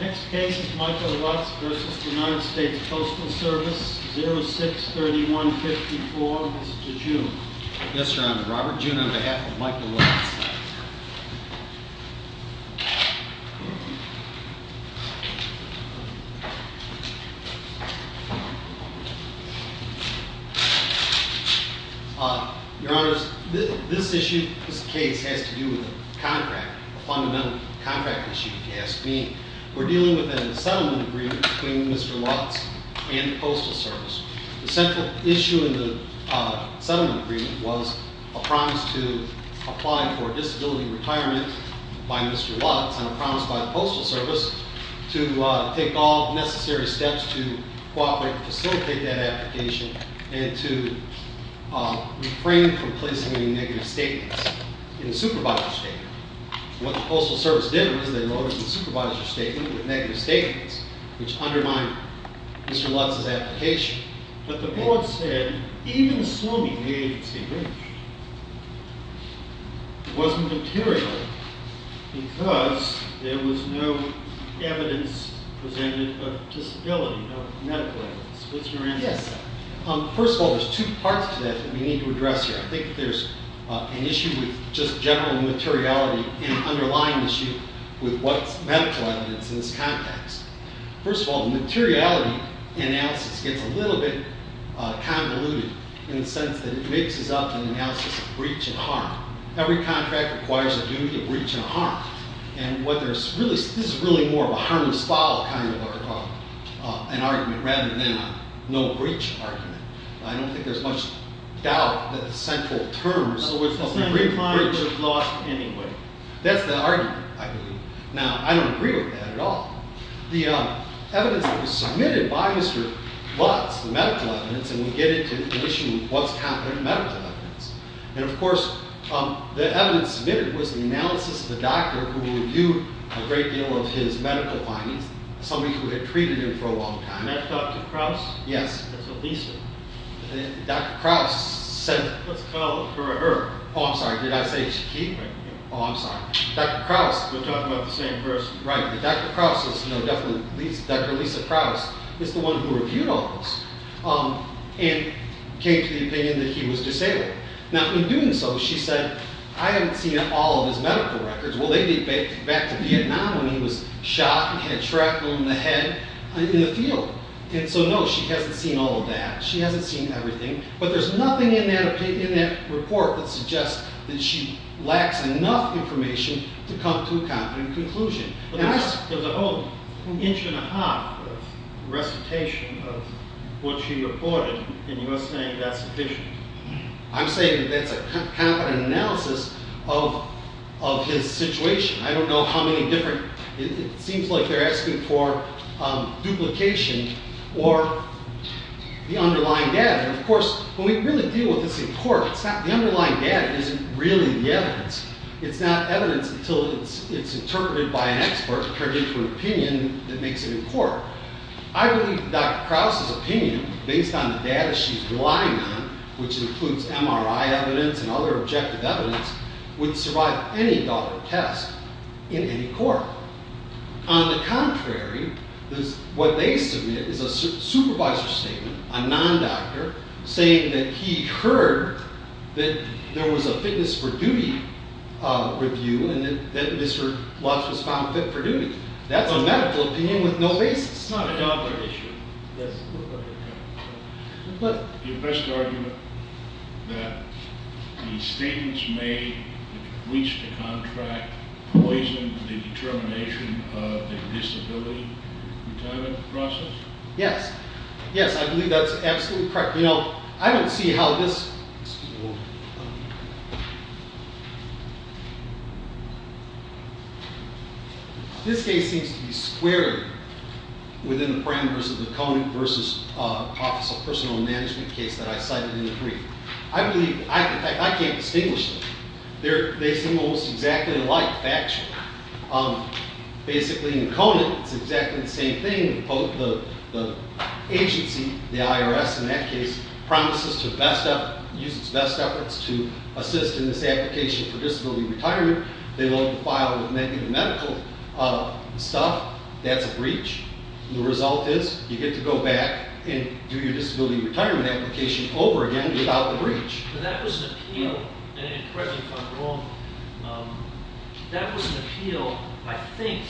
Next case is Michael Lutz v. United States Postal Service, 06-3154. Mr. June. Yes, Your Honor. Robert June on behalf of Michael Lutz. Your Honors, this issue, this case has to do with a contract, a fundamental contract issue if you ask me. We're dealing with a settlement agreement between Mr. Lutz and the Postal Service. The central issue in the settlement agreement was a promise to apply for disability retirement by Mr. Lutz, and a promise by the Postal Service to take all necessary steps to cooperate and facilitate that application and to refrain from placing any negative statements in the supervisor's statement. What the Postal Service did was they loaded the supervisor's statement with negative statements, which undermined Mr. Lutz's application. But the board said even swimming in the agency was material because there was no evidence presented of disability, no medical evidence. What's your answer to that? Yes, sir. First of all, there's two parts to that that we need to address here. I think there's an issue with just general materiality and underlying issue with what's medical evidence in this context. First of all, the materiality analysis gets a little bit convoluted in the sense that it mixes up an analysis of breach and harm. Every contract requires a duty of breach and harm. And what there's really, this is really more of a harmless follow kind of an argument rather than a no breach argument. I don't think there's much doubt that the central terms of the breach. In other words, the central findings are lost anyway. That's the argument, I believe. Now, I don't agree with that at all. The evidence that was submitted by Mr. Lutz, the medical evidence, and we get into the issue of what's happened in medical evidence. And, of course, the evidence submitted was the analysis of a doctor who reviewed a great deal of his medical findings, somebody who had treated him for a long time. That's Dr. Krauss? Yes. That's what Lisa. Dr. Krauss said. Let's call her. Oh, I'm sorry. Did I say Shaquille? Oh, I'm sorry. Dr. Krauss. We're talking about the same person. Right. But Dr. Krauss is, you know, definitely, Dr. Lisa Krauss is the one who reviewed all this and came to the opinion that he was disabled. Now, in doing so, she said, I haven't seen all of his medical records. Well, they date back to Vietnam when he was shot and had shrapnel in the head in the field. And so, no, she hasn't seen all of that. She hasn't seen everything. But there's nothing in that report that suggests that she lacks enough information to come to a confident conclusion. There's a whole inch and a half of recitation of what she reported, and you're saying that's sufficient? I'm saying that that's a confident analysis of his situation. I don't know how many different, it seems like they're asking for duplication or the underlying data. And, of course, when we really deal with this in court, the underlying data isn't really the evidence. It's not evidence until it's interpreted by an expert, prepared for an opinion that makes it in court. I believe Dr. Krause's opinion, based on the data she's relying on, which includes MRI evidence and other objective evidence, would survive any adult test in any court. On the contrary, what they submit is a supervisor statement, a non-doctor, saying that he heard that there was a fitness for duty review and that Mr. Lutz was found fit for duty. That's a medical opinion with no basis. It's not a doctor issue. Your best argument is that the statements made in the breach to contract poison the determination of the disability retirement process? Yes. Yes, I believe that's absolutely correct. You know, I don't see how this case seems to be squared within the parameters of the Conant v. Office of Personal Management case that I cited in the brief. I can't distinguish them. They seem almost exactly alike, factually. Basically, in Conant, it's exactly the same thing. Both the agency, the IRS in that case, promises to use its best efforts to assist in this application for disability retirement. They load the file with medical stuff. That's a breach. The result is you get to go back and do your disability retirement application over again without the breach. But that was an appeal, and correct me if I'm wrong, that was an appeal, I think,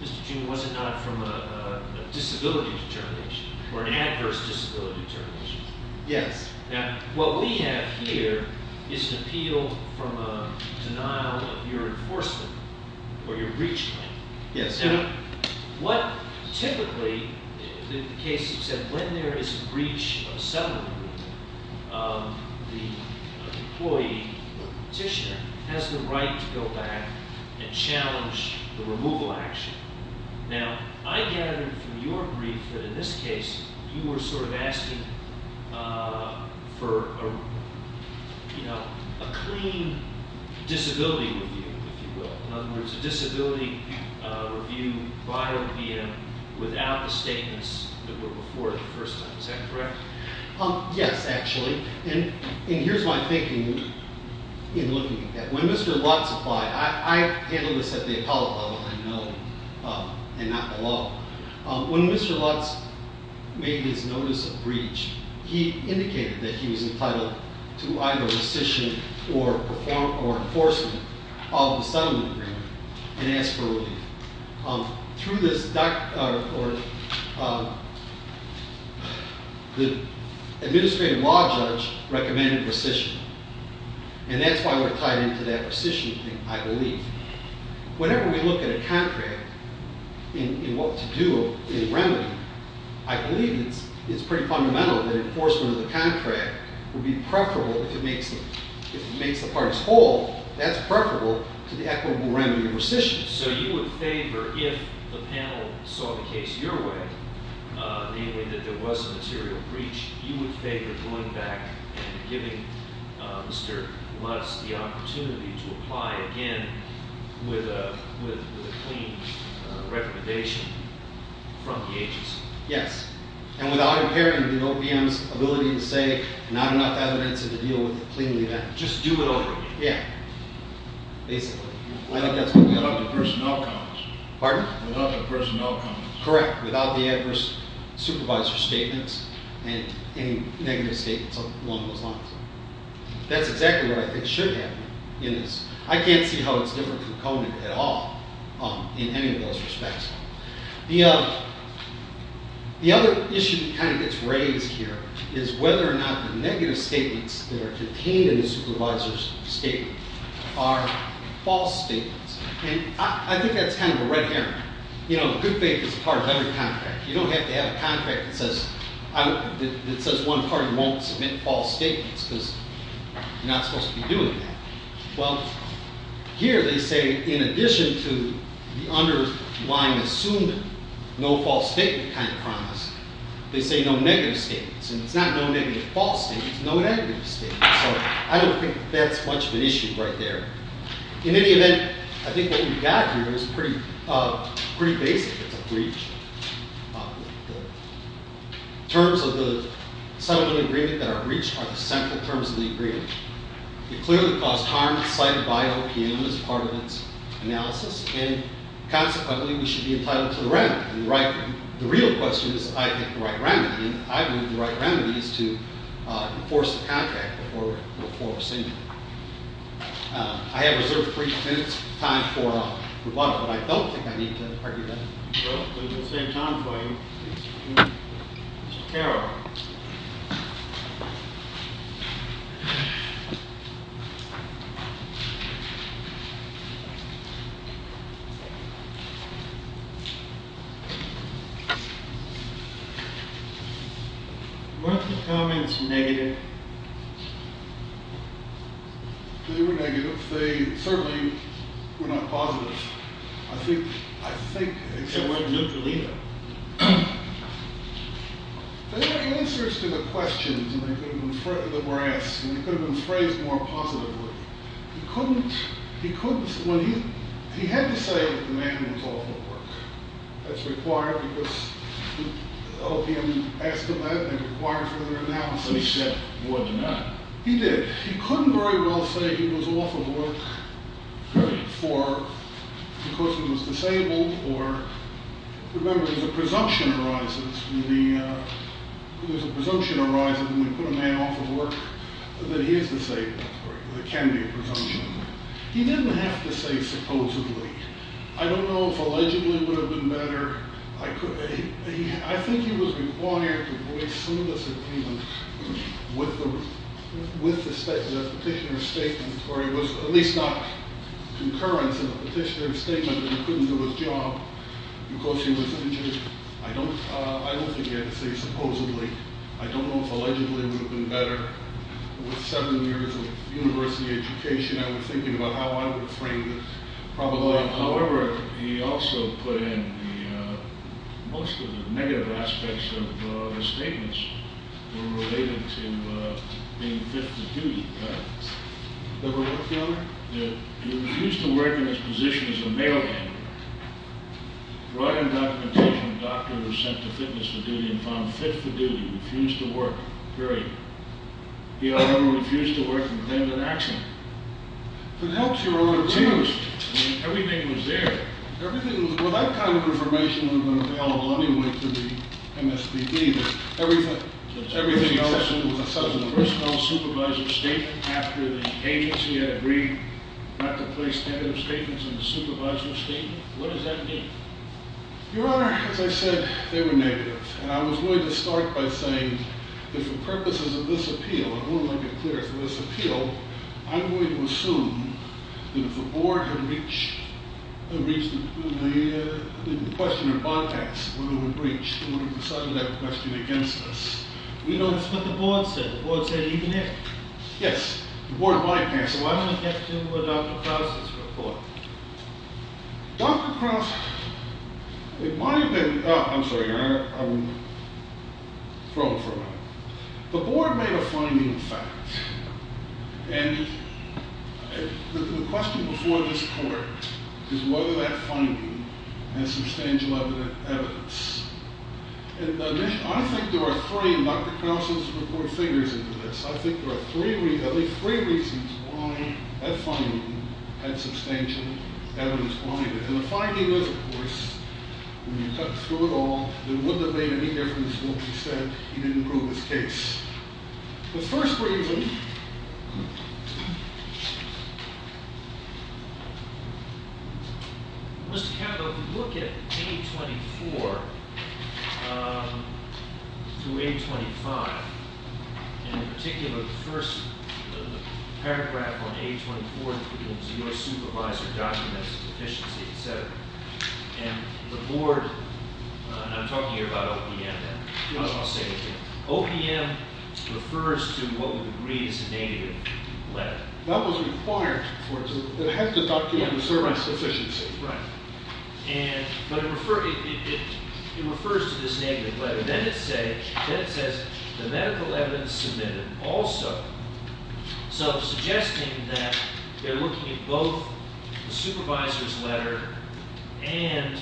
Mr. June, was it not from a disability determination or an adverse disability determination? Yes. Now, what we have here is an appeal from a denial of your enforcement or your breach claim. Yes. Now, what typically, in the case you said, when there is a breach of settlement, the employee or petitioner has the right to go back and challenge the removal action. Now, I gathered from your brief that in this case, you were sort of asking for a clean disability review, if you will. In other words, a disability review by OPM without the statements that were before the first time. Is that correct? Yes, actually. And here's my thinking in looking at that. When Mr. Lutz applied, I handle this at the Apollo level, I know, and not below. When Mr. Lutz made his notice of breach, he indicated that he was entitled to either rescission or enforcement of the settlement agreement and asked for relief. Through this, the administrative law judge recommended rescission, and that's why we're tied into that rescission thing, I believe. Whenever we look at a contract, in what to do in remedy, I believe it's pretty fundamental that enforcement of the contract would be preferable, if it makes the parties whole, that's preferable to the equitable remedy of rescission. So you would favor, if the panel saw the case your way, namely that there was a material breach, you would favor going back and giving Mr. Lutz the opportunity to apply again with a clean recommendation from the agency? Yes. And without impairing the OPM's ability to say, not enough evidence to deal with it cleanly. Just do it over again. Yeah. Basically. Without the personnel comments. Pardon? Without the personnel comments. Correct. Without the adverse supervisor statements and any negative statements along those lines. That's exactly what I think should happen in this. I can't see how it's different from Conan at all in any of those respects. The other issue that kind of gets raised here is whether or not the negative statements that are contained in the supervisor's statement are false statements. And I think that's kind of a red herring. You know, good faith is part of every contract. You don't have to have a contract that says one party won't submit false statements because you're not supposed to be doing that. Well, here they say in addition to the underlying assumed no false statement kind of promise, they say no negative statements. And it's not no negative false statements, no negative statements. So I don't think that's much of an issue right there. In any event, I think what we've got here is pretty basic. It's a breach. The terms of the settlement agreement that are breached are the central terms of the agreement. It clearly caused harm cited by OPM as part of its analysis. And consequently, we should be entitled to the remedy. The real question is, I think, the right remedy. And I believe the right remedy is to enforce the contract before we're submitted. I have reserved three minutes of time for rebuttal, but I don't think I need to argue that. Well, it's the same time for you. Mr. Carroll. Weren't the comments negative? They were negative. They certainly were not positive. They weren't neutral either. There were answers to the questions that were asked, and they could have been phrased more positively. He had to say that the man was off of work. That's required because OPM asked him that, and it required further analysis. So he said, would not. He did. He couldn't very well say he was off of work because he was disabled. Remember, there's a presumption that arises when we put a man off of work that he is disabled. There can be a presumption. He didn't have to say supposedly. I don't know if allegedly would have been better. I think he was required to voice some disagreement with the petitioner's statement, or it was at least not concurrence in the petitioner's statement that he couldn't do his job because he was injured. I don't think he had to say supposedly. I don't know if allegedly would have been better. With seven years of university education, I was thinking about how I would frame this. However, he also put in most of the negative aspects of his statements were related to being fit for duty. He refused to work in his position as a mailman. Right in documentation, a doctor was sent to fitness for duty and found fit for duty, refused to work, period. He, however, refused to work and was in an accident. It changed. Everything was there. Well, that kind of information would have been available anyway to the MSPD. Everything else was a substitute. The personnel supervisor's statement after the agency had agreed not to place negative statements in the supervisor's statement. What does that mean? Your Honor, as I said, they were negative. And I was going to start by saying that for purposes of this appeal, I want to make it clear. For this appeal, I'm going to assume that if the board had reached the question of bypass, whether it would breach, they would have decided that question against us. We know that's what the board said. The board said even if. Yes, the board might pass. Why don't we get to Dr. Krause's report? Dr. Krause, in my opinion, I'm sorry, Your Honor, I'm thrown for a moment. The board made a finding of fact. And the question before this court is whether that finding has substantial evidence. And I think there are three, and Dr. Krause's report figures into this, I think there are at least three reasons why that finding had substantial evidence behind it. And the finding is, of course, when you cut through it all, there wouldn't have made any difference once you said he didn't prove his case. The first reason was to have a look at A24 through A25. And in particular, the first paragraph on A24 that begins, your supervisor documents efficiency, et cetera. And the board, and I'm talking here about OPM now. OPM refers to what we would read as a negative letter. That was required for it to document service efficiency. Right. But it refers to this negative letter. But then it says, the medical evidence submitted also. So suggesting that they're looking at both the supervisor's letter and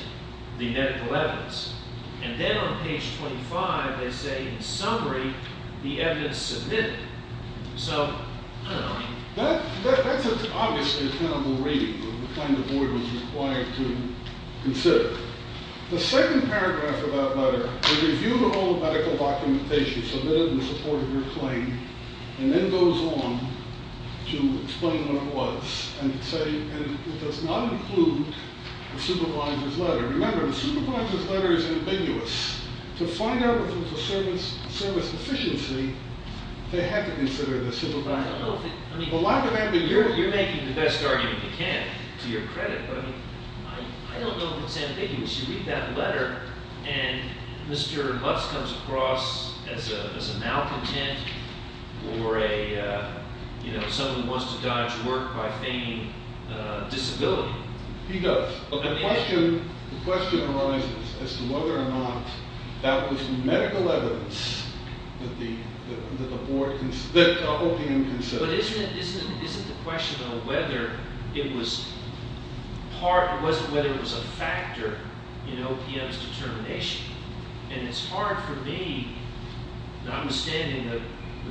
the medical evidence. And then on page 25, they say, in summary, the evidence submitted. So, I don't know. That's obviously a tenable reading of the kind the board was required to consider. The second paragraph of that letter, the review of all the medical documentation submitted in support of your claim, and then goes on to explain what it was. And it does not include the supervisor's letter. Remember, the supervisor's letter is ambiguous. To find out if it's a service efficiency, they had to consider the supervisor's letter. The lack of ambiguity. You're making the best argument you can, to your credit. I don't know if it's ambiguous. You read that letter, and Mr. Lutz comes across as a malcontent, or someone who wants to dodge work by feigning disability. He does. But the question arises as to whether or not that was medical evidence that the board, that the OPM considered. But isn't the question, though, whether it was a factor in OPM's determination? And it's hard for me, notwithstanding the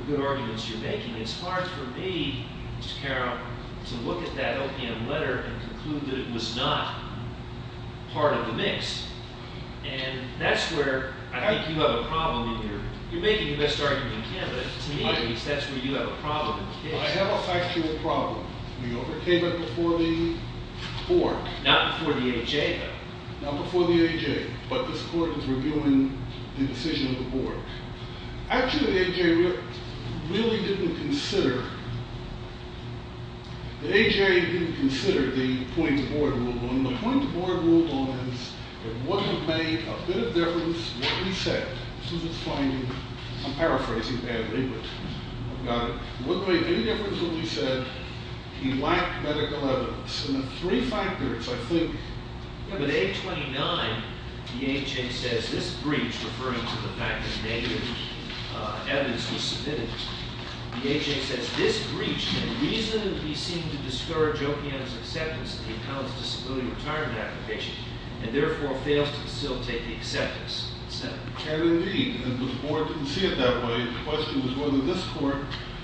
good arguments you're making, it's hard for me, Mr. Carroll, to look at that OPM letter and conclude that it was not part of the mix. And that's where I think you have a problem. You're making the best argument you can, but to me, that's where you have a problem. I have a factual problem. We overcame it before the court. Not before the A.J., though. Not before the A.J., but this court is reviewing the decision of the board. Actually, the A.J. really didn't consider, the A.J. didn't consider the point the board ruled on. The point the board ruled on is it would have made a bit of difference what we said. I'm paraphrasing badly, but I've got it. It wouldn't make any difference what we said. He lacked medical evidence. And the three factors, I think. Yeah, but A.J. 29, the A.J. says this breach, referring to the fact that negative evidence was submitted, the A.J. says this breach can reasonably seem to discourage OPM's acceptance of the accountant's disability retirement application and therefore fails to facilitate the acceptance. It can indeed, but the board didn't see it that way. The question was whether this court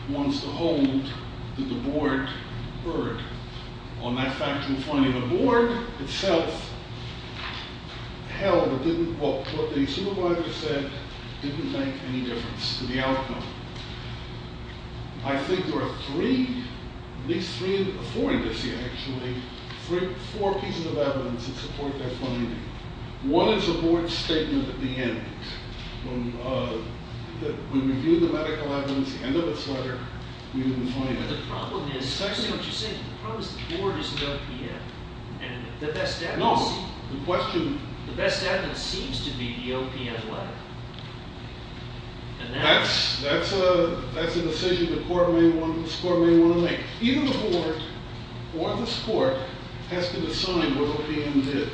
wants to hold that the board erred on that factual finding. The board itself held what the supervisor said didn't make any difference to the outcome. I think there are three, at least three, four indices, actually, four pieces of evidence that support that finding. One is the board's statement at the end. When we reviewed the medical evidence at the end of its letter, we didn't find it. But the problem is, especially what you're saying, the problem is the board isn't OPM. And the best evidence seems to be the OPM letter. And that's a decision this court may want to make. Either the board or this court has to decide what OPM did.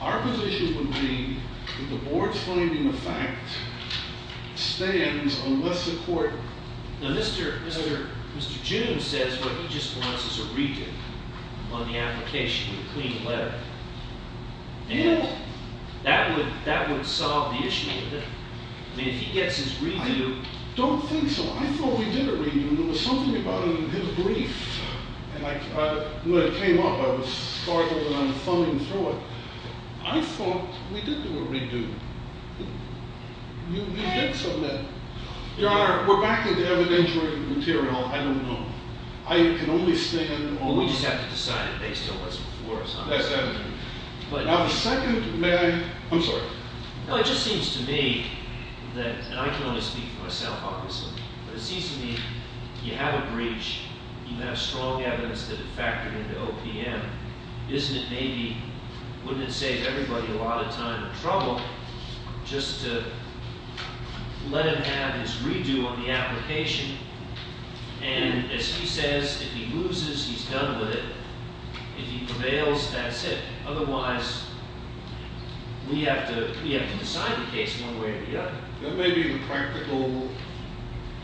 Our position would be that the board's finding of fact stands unless the court... Now, Mr. June says what he just wants is a redo on the application with a clean letter. And that would solve the issue, wouldn't it? I mean, if he gets his redo... I don't think so. I thought we did a redo. There was something about it in his brief. And when it came up, I was startled and I'm thumbing through it. I thought we did do a redo. You did submit. Your Honor, we're back into evidentiary material. I don't know. I can only stand... Well, we just have to decide if they still listen for us. That's evident. Now, the second... May I? I'm sorry. No, it just seems to me that... And I can only speak for myself, obviously. But it seems to me you have a breach. You have strong evidence that it factored into OPM. Isn't it maybe... Wouldn't it save everybody a lot of time and trouble just to let him have his redo on the application? And as he says, if he loses, he's done with it. If he prevails, that's it. Otherwise, we have to decide the case in one way or the other. That may be the practical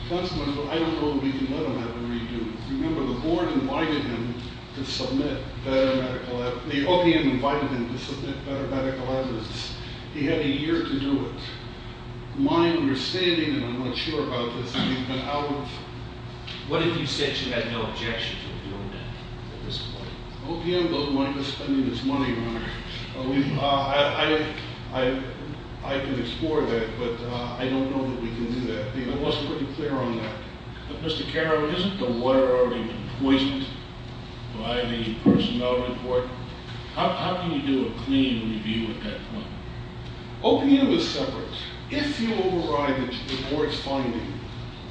judgment, but I don't know that we can let him have the redo. Remember, the board invited him to submit better medical evidence. The OPM invited him to submit better medical evidence. He had a year to do it. My understanding, and I'm not sure about this, he's been out of... What if you said you had no objection to him doing that at this point? OPM doesn't mind us spending its money on it. I can explore that, but I don't know that we can do that. I think I was pretty clear on that. But, Mr. Carroll, isn't the lawyer already poisoned by the personnel report? How can you do a clean review at that point? OPM is separate. If you override the board's finding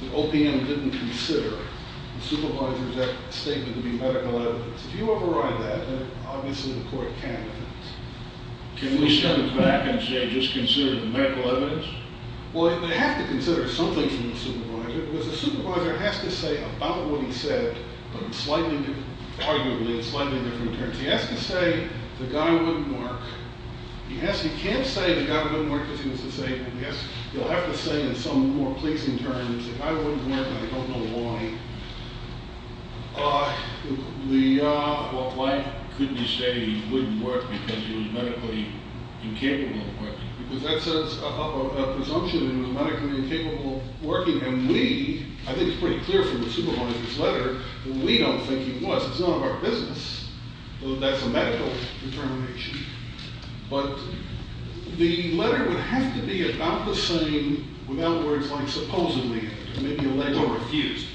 that OPM didn't consider the Supervisor's statement to be medical evidence... If you override that, then obviously the court can't... Can we step back and say, just consider the medical evidence? Well, they have to consider some things in the Supervisor, because the Supervisor has to say about what he said, but in slightly different... Arguably, in slightly different terms. He has to say, the guy wouldn't work. He can't say the guy wouldn't work because he was disabled. He'll have to say in some more pleasing terms, the guy wouldn't work and I don't know why. Why couldn't you say he wouldn't work because he was medically incapable of working? Because that says a presumption that he was medically incapable of working, and we, I think it's pretty clear from the Supervisor's letter, we don't think he was. It's none of our business. That's a medical determination. But the letter would have to be about the same, without words like supposedly, Or refused.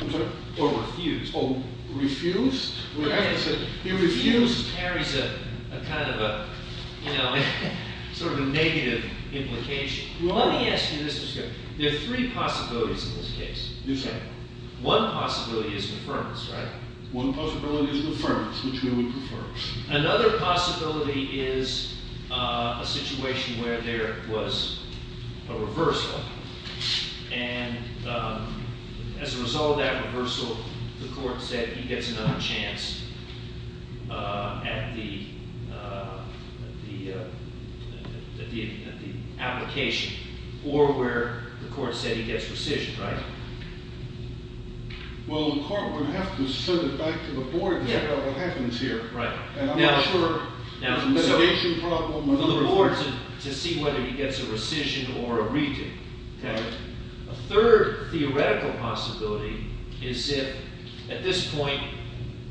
I'm sorry? Or refused. Oh, refused? He refused carries a kind of a, you know, sort of a negative implication. Let me ask you this. There are three possibilities in this case. You say. One possibility is affirmance, right? One possibility is affirmance, which we would prefer. Another possibility is a situation where there was a reversal, and as a result of that reversal, the court said he gets another chance at the application, or where the court said he gets rescission, right? Well, the court would have to send it back to the board to figure out what happens here. Right. And I'm not sure. Now, so. There's a litigation problem. To see whether he gets a rescission or a reading. A third theoretical possibility is if, at this point,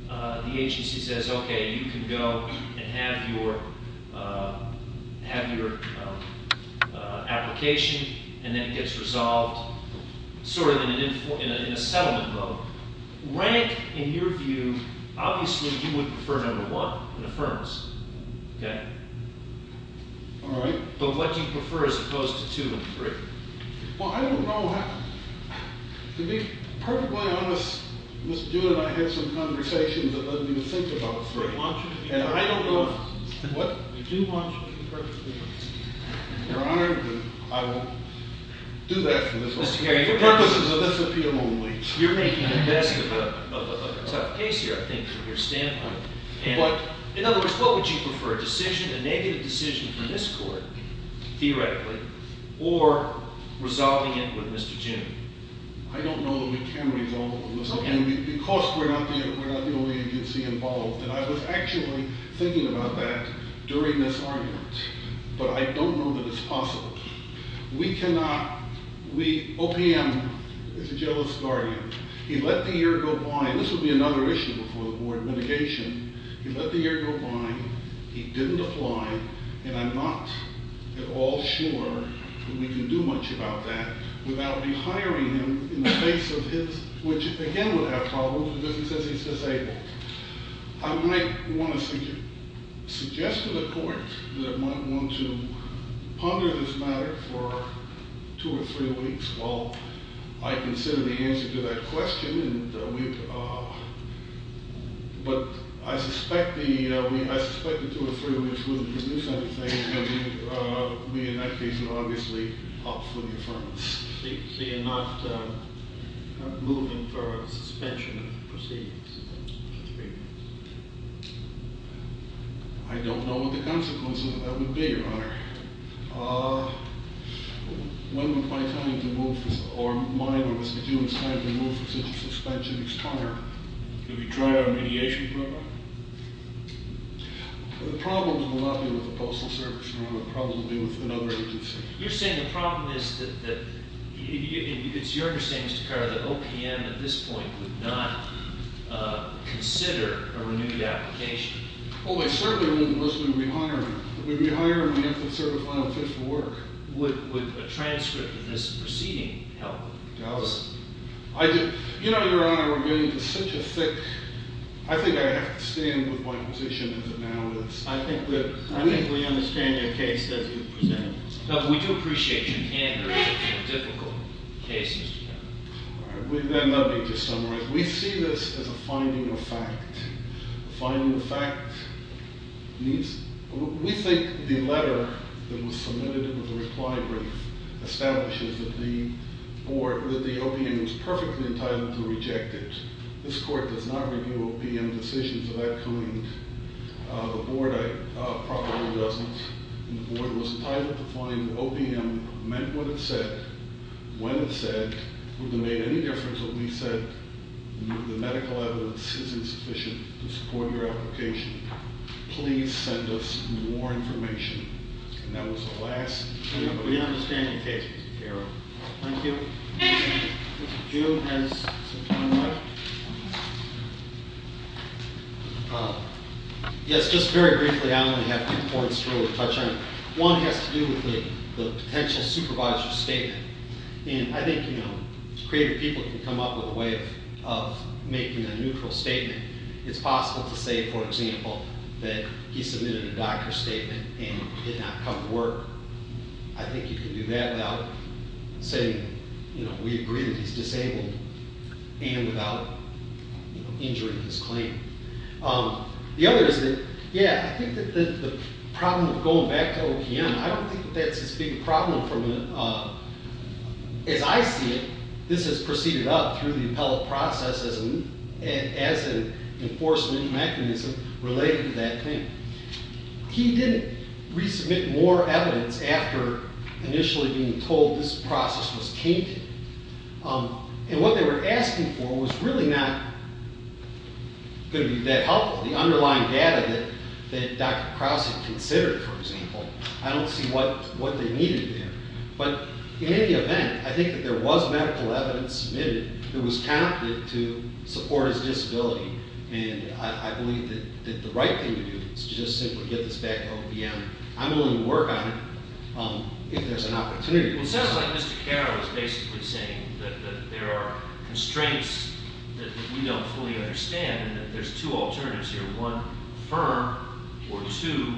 the agency says, okay, you can go and have your application, and then it gets resolved sort of in a settlement vote. Rank, in your view, obviously you would prefer number one, an affirmance. Okay? All right. But what do you prefer as opposed to two and three? Well, I don't know how. To be perfectly honest, Mr. Dewitt and I had some conversations that led me to think about three. And I don't know what we do want you to be perfectly honest. Your Honor, I will do that for the purposes of this appeal only. You're making the best of a tough case here, I think, from your standpoint. But. In other words, what would you prefer, a decision, a negative decision from this court, theoretically, or resolving it with Mr. June? I don't know that we can resolve it with Mr. June. Okay. Because we're not the only agency involved. And I was actually thinking about that during this argument. But I don't know that it's possible. We cannot. We. OPM is a jealous guardian. He let the ear go blind. This would be another issue before the board, mitigation. He let the ear go blind. He didn't apply. And I'm not at all sure that we can do much about that without rehiring him in the face of his. Which, again, would have problems because he says he's disabled. I might want to suggest to the court that I might want to ponder this matter for two or three weeks. Well, I consider the answer to that question. We didn't. But I suspect the two or three weeks wouldn't produce anything. And we in that case would obviously opt for the affirmance. So you're not moving for a suspension of proceedings? I don't know what the consequences of that would be, Your Honor. When would my time to move this, or my, or Mr. June's time to move for such a suspension expire? Could we try out a mediation program? The problems will not be with the Postal Service, Your Honor. The problems will be with another agency. You're saying the problem is that, it's your understanding, Mr. Carr, that OPM at this point could not consider a renewed application? Oh, it certainly wouldn't unless we rehired him. If we rehired him, we'd have to serve a final fit for work. Would a transcript of this proceeding help? It does. You know, Your Honor, we're getting to such a thick, I think I have to stand with my position as it now is. I think we understand your case as you present it. But we do appreciate your candor. It's a difficult case, Mr. Carr. Let me just summarize. We see this as a finding of fact. Finding of fact means, we think the letter that was submitted, it was a reply brief, establishes that the board, that the OPM was perfectly entitled to reject it. This court does not review OPM decisions of that kind. The board probably doesn't. The board was entitled to find that OPM meant what it said, when it said, would it have made any difference if we said the medical evidence is insufficient to support your application? Please send us more information. And that was the last thing. We understand your case, Mr. Carr. Thank you. Mr. June has some time left. Yes, just very briefly, I only have two points to really touch on. One has to do with the potential supervisor's statement. And I think, you know, creative people can come up with a way of making a neutral statement. It's possible to say, for example, that he submitted a doctor's statement and did not come to work. I think you can do that without saying, you know, we agree that he's disabled and without injuring his claim. The other is that, yeah, I think that the problem of going back to OPM, I don't think that that's as big a problem as I see it. This has proceeded up through the appellate process as an enforcement mechanism related to that claim. He didn't resubmit more evidence after initially being told this process was tainted. And what they were asking for was really not going to be that helpful. The underlying data that Dr. Krause had considered, for example, I don't see what they needed there. But in any event, I think that there was medical evidence submitted that was counted to support his disability. And I believe that the right thing to do is to just simply get this back to OPM. I'm willing to work on it if there's an opportunity. It sounds like Mr. Carr is basically saying that there are constraints that we don't fully understand and that there's two alternatives here, one firm or two,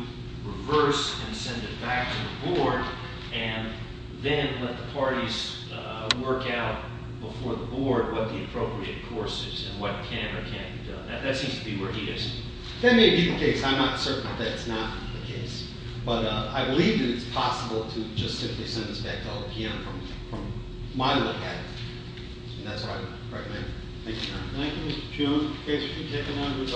reverse and send it back to the board, and then let the parties work out before the board what the appropriate course is and what can or can't be done. That seems to be where he is. That may be the case. I'm not certain that it's not the case. But I believe that it's possible to just simply send this back to OPM from my look at it. And that's what I would recommend. Thank you, sir. Thank you, Mr. Choon. Okay, so we'll take another five minutes.